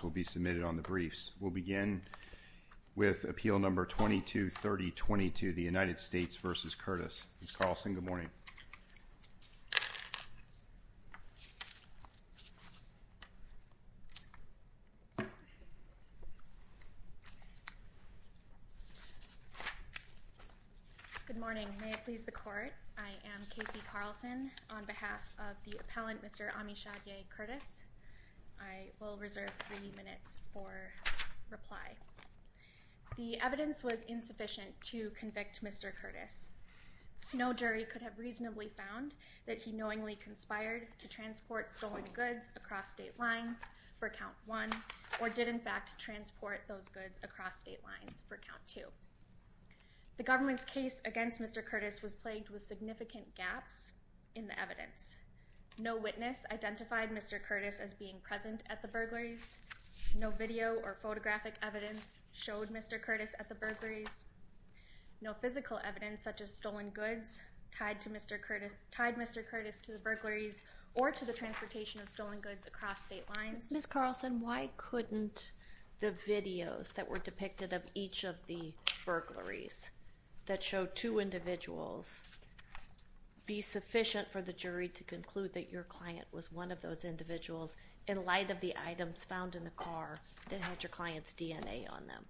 will be submitted on the briefs. We'll begin with appeal number 22-3022, the United States v. Curtis. Ms. Carlson, good morning. Good morning. May it please the court, I am Kasey Carlson on behalf of the United States v. Curtis. I'm here to give you the minutes for reply. The evidence was insufficient to convict Mr. Curtis. No jury could have reasonably found that he knowingly conspired to transport stolen goods across state lines for count one or did in fact transport those goods across state lines for count two. The government's case against Mr. Curtis was plagued with significant gaps in the evidence. No witness identified Mr. Curtis as being present at the burglaries. No video or photographic evidence showed Mr. Curtis at the burglaries. No physical evidence such as stolen goods tied to Mr. Curtis, tied Mr. Curtis to the burglaries or to the transportation of stolen goods across state lines. Ms. Carlson, why couldn't the videos that were depicted of each of the burglaries that showed two individuals be sufficient for the jury to conclude that your client was one of those individuals in light of the items found in the car that had your client's DNA on them?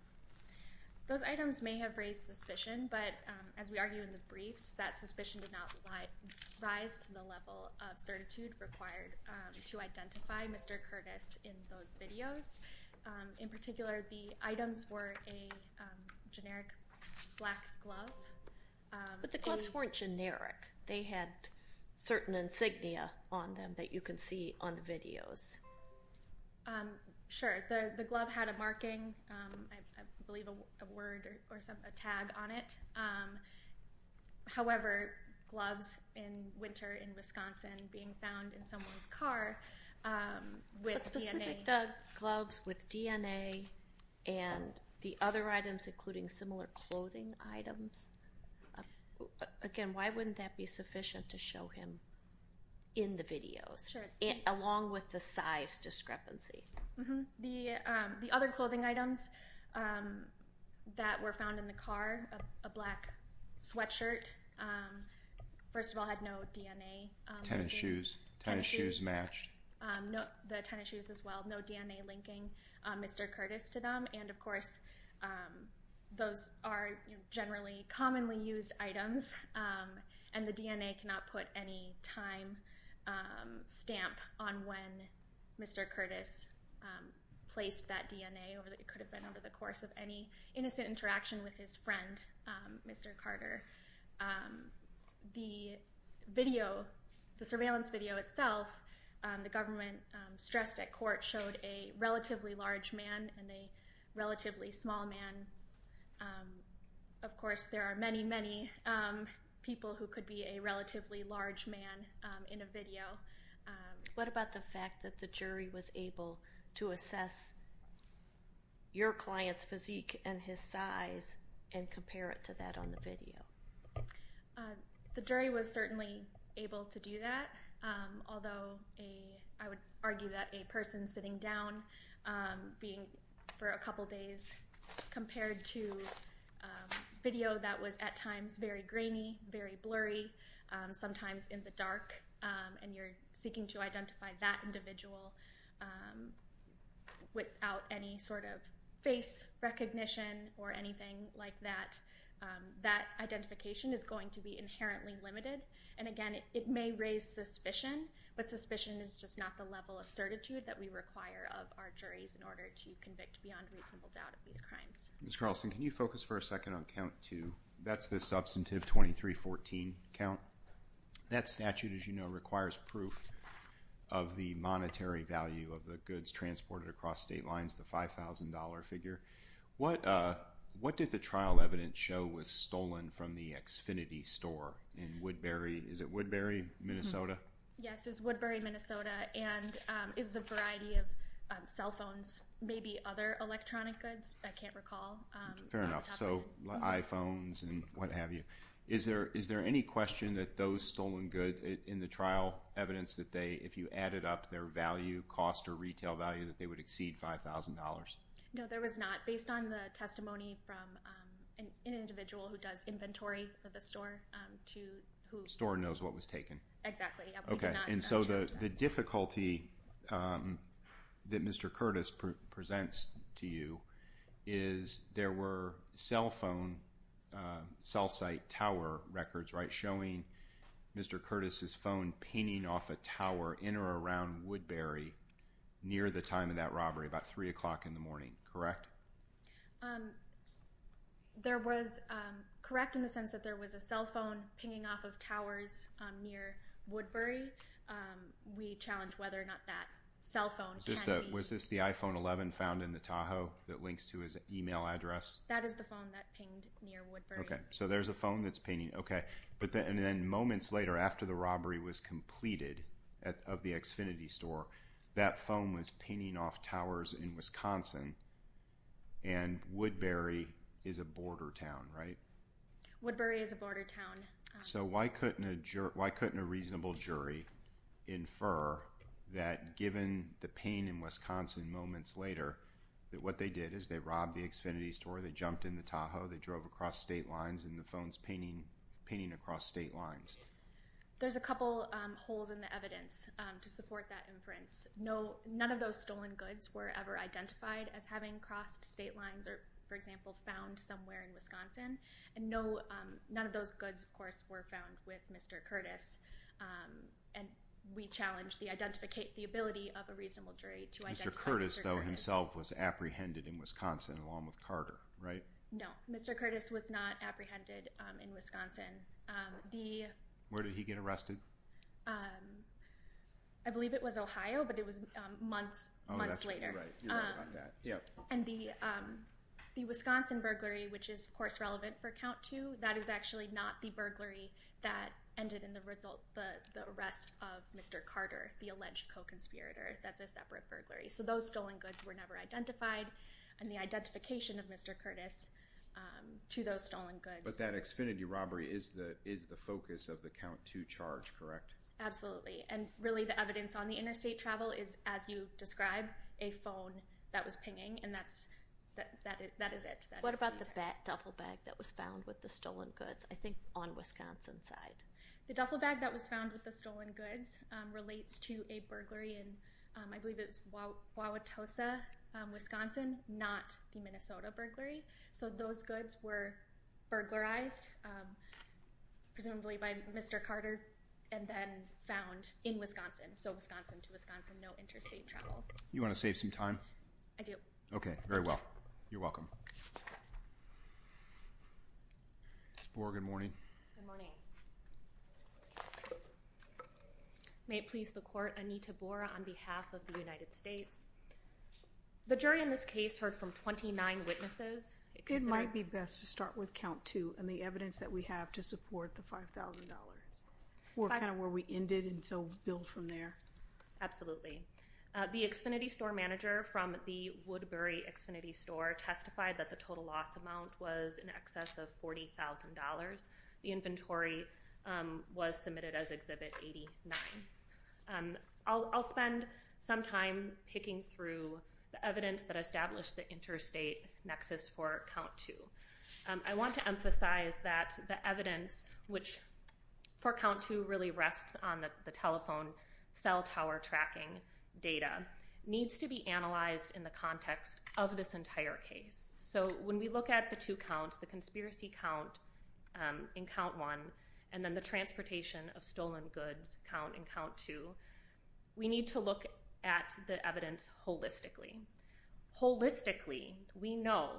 Those items may have raised suspicion but as we argue in the briefs that suspicion did not rise to the level of certitude required to identify Mr. Curtis in those videos. In particular the items were a generic black glove. But the gloves weren't generic. They had certain insignia on them that you can see on the videos. Sure, the glove had a marking, I believe a word or something, a tag on it. However, gloves in winter in Wisconsin being found in someone's car with DNA. But specific gloves with DNA and the other items including similar clothing items, again why wouldn't that be sufficient to show him in the videos? Sure. Along with the size discrepancy. Mm-hmm. The other clothing items that were found in the car, a black sweatshirt, first of all had no DNA. Tennis shoes, tennis shoes matched. The tennis shoes as well, no DNA linking Mr. Curtis to them. And of course those are generally commonly used items and the DNA cannot put any time stamp on when Mr. Curtis placed that DNA. It could have been over the course of any innocent interaction with his friend, Mr. Carter. The surveillance video itself the government stressed at court showed a relatively large man and a relatively small man. Of course there are many, many people who could be a relatively large man in a video. What about the fact that the jury was able to assess your client's physique and his size and compare it to that on the video? The jury was certainly able to do that although I would argue that a person sitting down being for a couple days compared to video that was at times very grainy, very blurry, sometimes in the dark and you're seeking to identify that individual without any sort of face recognition or anything like that, that identification is going to be inherently limited and again it may raise suspicion but suspicion is just not the level of certitude that we require of our juries in order to convict beyond reasonable doubt of these crimes. Ms. Carlson, can you focus for a second on count two? That's the substantive 2314 count. That statute as you know requires proof of the monetary value of the goods transported across state lines, the $5,000 figure. What did the trial evidence show was stolen from the Xfinity store in Woodbury? Is it Woodbury, Minnesota? Yes, it's Woodbury, Minnesota and it was a I can't recall. Fair enough, so iPhones and what-have-you. Is there any question that those stolen goods in the trial evidence that they if you added up their value cost or retail value that they would exceed $5,000? No, there was not based on the testimony from an individual who does inventory for the store. The store knows what was taken? Exactly. Okay, and so the difficulty that Mr. Curtis presents to you is there were cell phone cell site tower records right showing Mr. Curtis's phone pinging off a tower in or around Woodbury near the time of that robbery about 3 o'clock in the morning, correct? There was correct in the sense that there was a cell phone pinging off of towers near Woodbury. We challenged whether or not that cell phone. Was this the iPhone 11 found in the Tahoe that links to his email address? That is the phone that pinged near Woodbury. Okay, so there's a phone that's pinging. Okay, but then moments later after the robbery was completed of the Xfinity store, that phone was pinging off towers in Wisconsin and Woodbury is a border town, right? Woodbury is a border town. So why couldn't a juror, why couldn't a reasonable jury infer that given the pain in Wisconsin moments later that what they did is they robbed the Xfinity store, they jumped in the Tahoe, they drove across state lines and the phones pinging across state lines? There's a couple holes in the evidence to support that inference. None of those stolen goods were ever identified as having crossed state lines or for Wisconsin and no, none of those goods of course were found with Mr. Curtis and we challenged the ability of a reasonable jury to identify Mr. Curtis. Mr. Curtis though himself was apprehended in Wisconsin along with Carter, right? No, Mr. Curtis was not apprehended in Wisconsin. Where did he get arrested? I believe it was Ohio but it was months later. And the Wisconsin burglary which is course relevant for count two, that is actually not the burglary that ended in the result, the arrest of Mr. Carter, the alleged co-conspirator. That's a separate burglary. So those stolen goods were never identified and the identification of Mr. Curtis to those stolen goods. But that Xfinity robbery is the is the focus of the count to charge, correct? Absolutely and really the evidence on the interstate travel is as you describe, a phone that was pinging and that's, that is it. What about the duffel bag that was found with the stolen goods? I think on Wisconsin side. The duffel bag that was found with the stolen goods relates to a burglary and I believe it's Wauwatosa, Wisconsin, not the Minnesota burglary. So those goods were burglarized presumably by Mr. Carter and then found in Wisconsin. So Wisconsin to Wisconsin, no interstate travel. You want to save some time? I do. Okay, very well. You're welcome. Ms. Borra, good morning. Good morning. May it please the court, Anita Borra on behalf of the United States. The jury in this case heard from 29 witnesses. It might be best to start with count two and the evidence that we have to support the $5,000. Kind of where we ended and so build from there. Absolutely. The Xfinity store manager from the Woodbury Xfinity store testified that the total loss amount was in excess of $40,000. The inventory was submitted as exhibit 89. I'll spend some time picking through the evidence that established the interstate nexus for count two. I want to emphasize that the evidence which for count two really rests on the telephone cell tower tracking data needs to be analyzed in the context of this entire case. So when we look at the two counts, the conspiracy count in count one and then the transportation of stolen goods count in count two, we need to look at the evidence holistically. Holistically, we know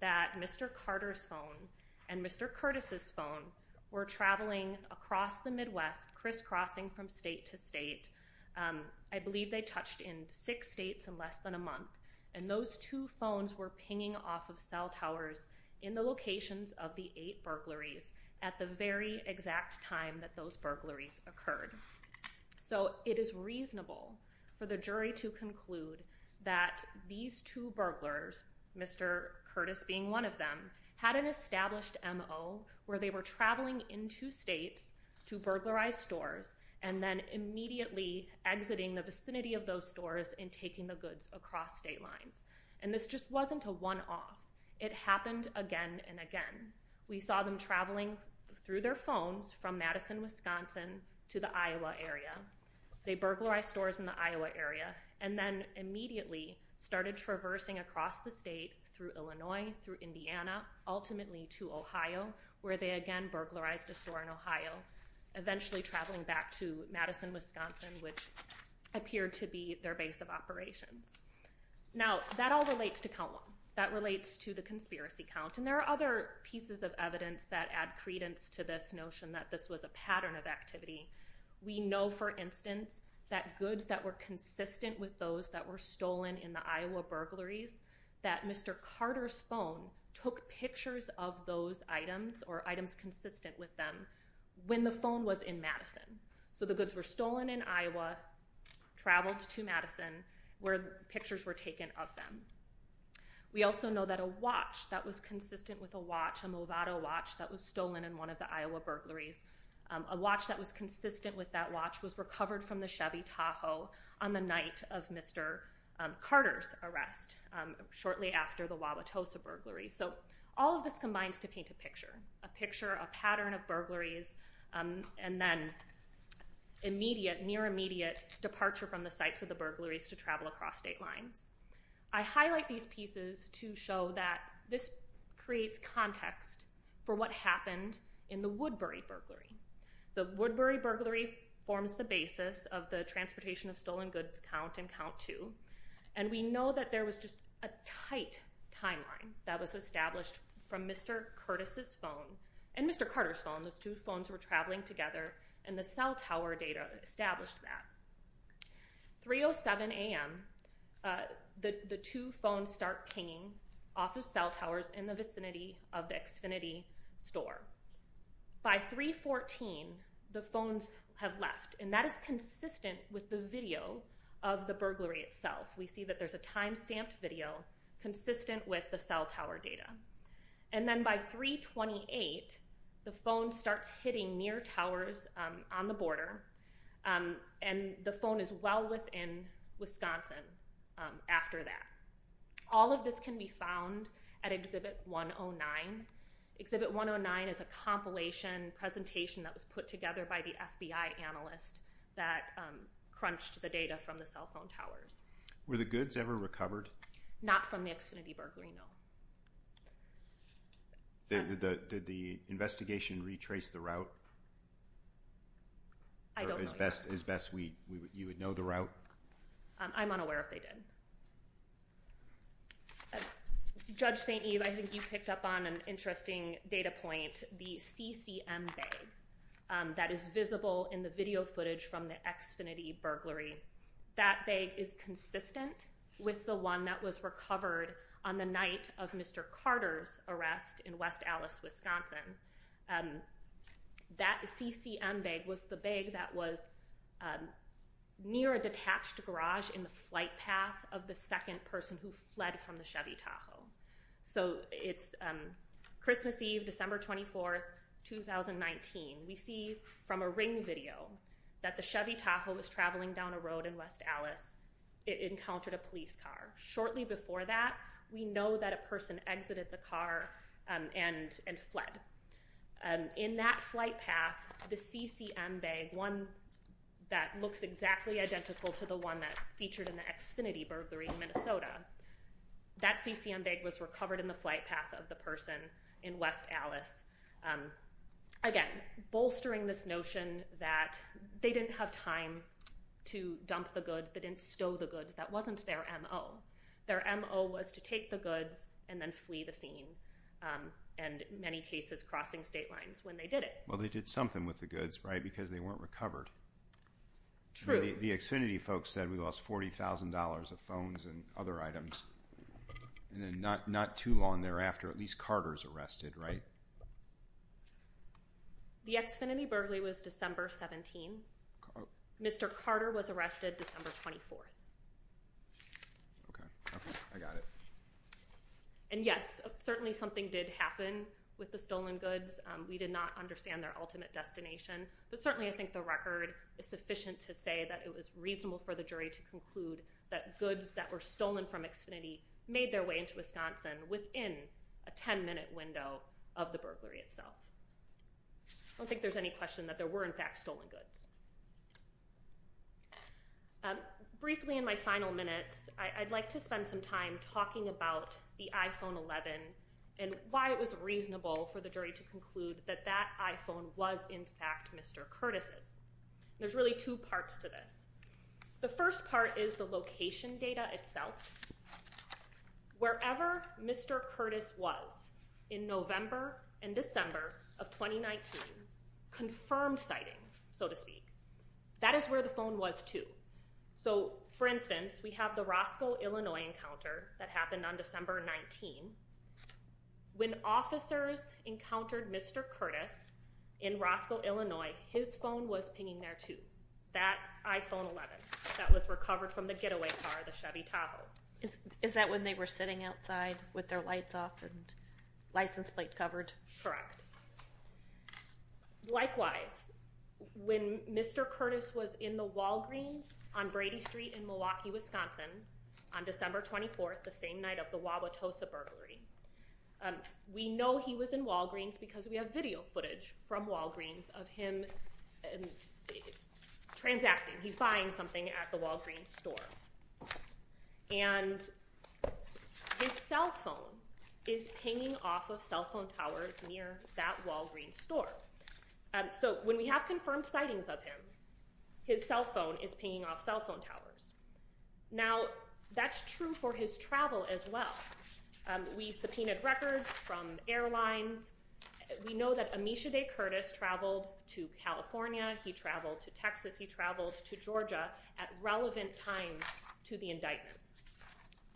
that Mr Carter's phone and Mr Curtis's phone were traveling across the Midwest, crisscrossing from state to state. Um, I believe they touched in six states in less than a month, and those two phones were pinging off of cell towers in the locations of the eight burglaries at the very exact time that those burglaries occurred. So it is reasonable for the jury to conclude that these two burglars, Mr Curtis being one of them, had an established M. O. Where they were traveling into states to burglarize stores and then immediately exiting the vicinity of those stores and taking the goods across state lines. And this just wasn't a one off. It happened again and again. We saw them traveling through their phones from Madison, Wisconsin to the Iowa area. They burglarized stores in the Iowa area and then immediately started traversing across the state through Illinois, through Indiana, ultimately to Ohio, where they again burglarized a store in Ohio, eventually traveling back to Madison, Wisconsin, which appeared to be their base of operations. Now that all relates to count one that relates to the conspiracy count. And there are other pieces of evidence that add credence to this notion that this was a pattern of activity. We know, for instance, that goods that were consistent with those that were stolen in the Iowa burglaries, that Mr Carter's phone took pictures of those items or items consistent with them when the phone was in Madison. So the goods were stolen in Iowa, traveled to Madison, where pictures were taken of them. We also know that a watch that was consistent with a watch, a Movado watch that was consistent with that watch was recovered from the Chevy Tahoe on the night of Mr. Carter's arrest shortly after the Wauwatosa burglary. So all of this combines to paint a picture. A picture, a pattern of burglaries, and then immediate, near-immediate departure from the sites of the burglaries to travel across state lines. I highlight these pieces to show that this creates context for what happened in the Woodbury burglary. The Woodbury burglary forms the basis of the transportation of stolen goods count and count to. And we know that there was just a tight timeline that was established from Mr. Curtis's phone and Mr. Carter's phone. Those two phones were traveling together and the cell tower data established that. 3.07 a.m., the two phones start hanging off of cell towers in the vicinity of the Xfinity store. By 3.14, the phones have left, and that is consistent with the video of the burglary itself. We see that there's a time-stamped video consistent with the cell tower data. And then by 3.28, the phone starts hitting near towers on the found at Exhibit 109. Exhibit 109 is a compilation presentation that was put together by the FBI analyst that crunched the data from the cell phone towers. Were the goods ever recovered? Not from the Xfinity burglary, no. Did the investigation retrace the route? I don't know. As best as best you would know the Judge St. Eve, I think you picked up on an interesting data point. The CCM bag that is visible in the video footage from the Xfinity burglary, that bag is consistent with the one that was recovered on the night of Mr. Carter's arrest in West Allis, Wisconsin. Um, that CCM bag was the bag that was, um, near a detached garage in the flight path of the second person who fled from the Chevy Tahoe. So it's, um, Christmas Eve, December 24th, 2019. We see from a ring video that the Chevy Tahoe was traveling down a road in West Allis. It encountered a police car. Shortly before that, we know that a person exited the car, um, and, and fled. Um, in that flight path, the CCM bag, one that looks exactly identical to the one that featured in the Xfinity burglary in that CCM bag was recovered in the flight path of the person in West Allis. Um, again, bolstering this notion that they didn't have time to dump the goods. They didn't stow the goods. That wasn't their M.O. Their M.O. was to take the goods and then flee the scene. Um, and many cases crossing state lines when they did it. Well, they did something with the goods, right? Because they weren't recovered. True. The Xfinity folks said we lost $40,000 of phones and other items. And then not, not too long thereafter, at least Carter's arrested, right? The Xfinity burglary was December 17. Mr. Carter was arrested December 24th. Okay, I got it. And yes, certainly something did happen with the stolen goods. We did not understand their ultimate destination, but certainly I think the record is sufficient to say that it was reasonable for the jury to conclude that goods that were stolen from Xfinity made their way into Wisconsin within a 10 minute window of the burglary itself. I don't think there's any question that there were in fact stolen goods. Um, briefly in my final minutes, I'd like to spend some time talking about the iPhone 11 and why it was reasonable for the jury to conclude that that iPhone was in fact Mr. Curtis's. There's really two parts to this. The first part is the location data itself, wherever Mr. Curtis was in November and December of 2019 confirmed sightings, so to speak. That is where the phone was too. So for instance, we have the Roscoe, Illinois encounter that happened on December 19. When officers encountered Mr. Curtis in that iPhone 11 that was recovered from the getaway car, the Chevy Tahoe. Is that when they were sitting outside with their lights off and license plate covered? Correct. Likewise, when Mr. Curtis was in the Walgreens on Brady Street in Milwaukee, Wisconsin on December 24th, the same night of the Wauwatosa burglary, we know he was in Walgreens because we have video footage from transacting. He's buying something at the Walgreens store and his cell phone is pinging off of cell phone towers near that Walgreens stores. So when we have confirmed sightings of him, his cell phone is pinging off cell phone towers. Now that's true for his travel as well. We subpoenaed records from airlines. We know that Amicia Day Curtis traveled to California. He traveled to Texas. He traveled to Georgia at relevant time to the indictment.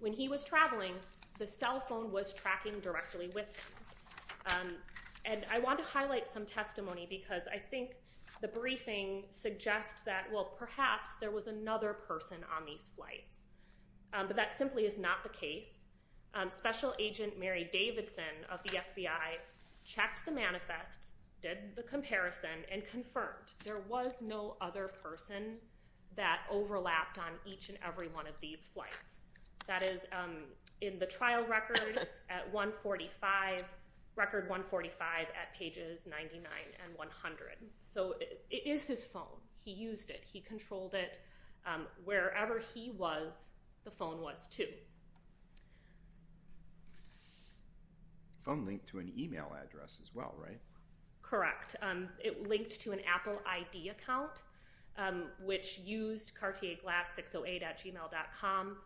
When he was traveling, the cell phone was tracking directly with him. And I want to highlight some testimony because I think the briefing suggests that, well, perhaps there was another person on these flights. But that simply is not the case. Special Agent Mary Davidson of the United States was no other person that overlapped on each and every one of these flights. That is in the trial record at 145, record 145 at pages 99 and 100. So it is his phone. He used it. He controlled it. Wherever he was, the phone was too. The phone linked to an email address as well, right? Correct. It linked to an Apple ID account which used Cartier Glass 608 at gmail.com.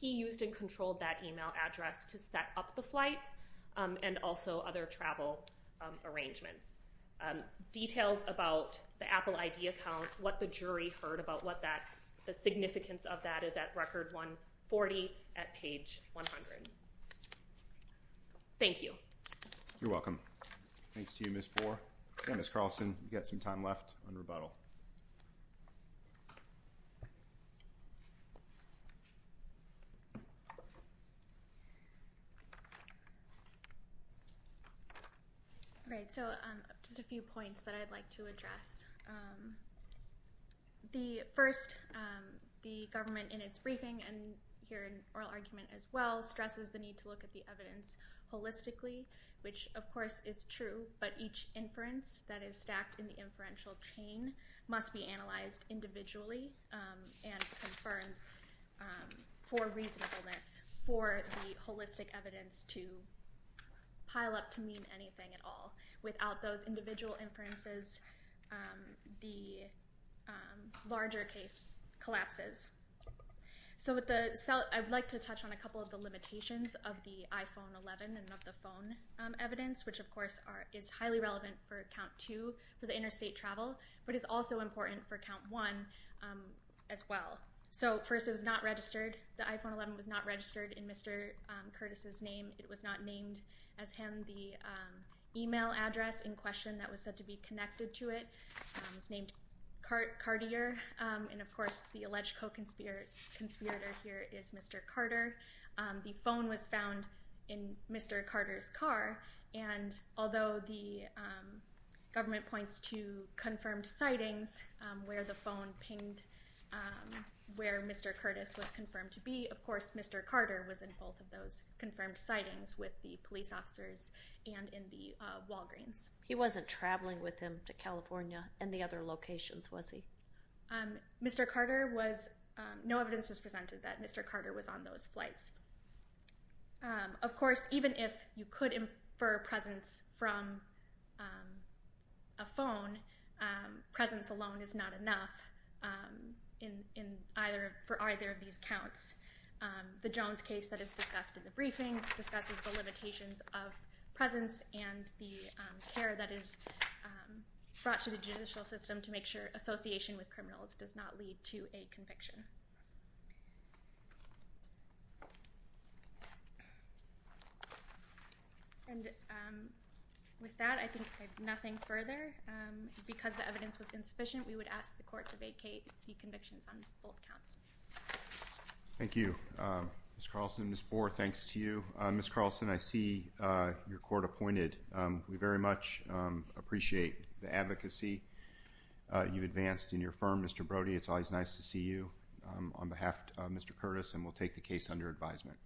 He used and controlled that email address to set up the flights and also other travel arrangements. Details about the Apple ID account, what the jury heard about what that the significance of that is at record 140 at page 100. Thank you. You're welcome. Thanks to you, Ms. Boer. And Ms. Carlson, you've got some time left on rebuttal. Right. So just a few points that I'd like to address. The first, the government in its briefing and here in oral argument as well, stresses the need to look at the evidence holistically, which of course is true, but each inference that is stacked in the inferential chain must be analyzed individually and confirmed for reasonableness for the holistic evidence to pile up to mean anything at all. Without those individual inferences, the larger case collapses. So I'd like to touch on a couple of the limitations of the iPhone 11 and of the phone evidence, which of course is highly relevant for count two for the interstate travel, but it's also important for count one as well. So first, it was not registered. The iPhone 11 was not registered in Mr. Curtis's name. It was not named as him. The email address in question that was said to be connected to it was named Cartier. And of course, the alleged co-conspirator here is Mr. Carter. The phone was found in Mr. Carter's car. And although the government points to confirmed sightings where the phone pinged where Mr. Curtis was confirmed to be, of course, Mr. Carter was in both of those confirmed sightings with the police officers and in the Walgreens. He wasn't traveling with him to California and the other locations, was he? Mr. Carter was, no evidence was presented that Mr. Carter was on those flights. Of course, even if you could infer presence from a phone, presence alone is not enough for either of these counts. The Jones case that is discussed in the briefing discusses the limitations of presence and the care that is brought to the judicial system to make sure association with criminals does not lead to a conviction. And with that, I think I have nothing further. Because the evidence was insufficient, we would ask the court to vacate the convictions on both counts. Thank you, Ms. Carlson. Ms. Bohr, thanks to you. Ms. Carlson, I see your appreciate the advocacy you've advanced in your firm. Mr. Brody, it's always nice to see you on behalf of Mr. Curtis and we'll take the case under advisement.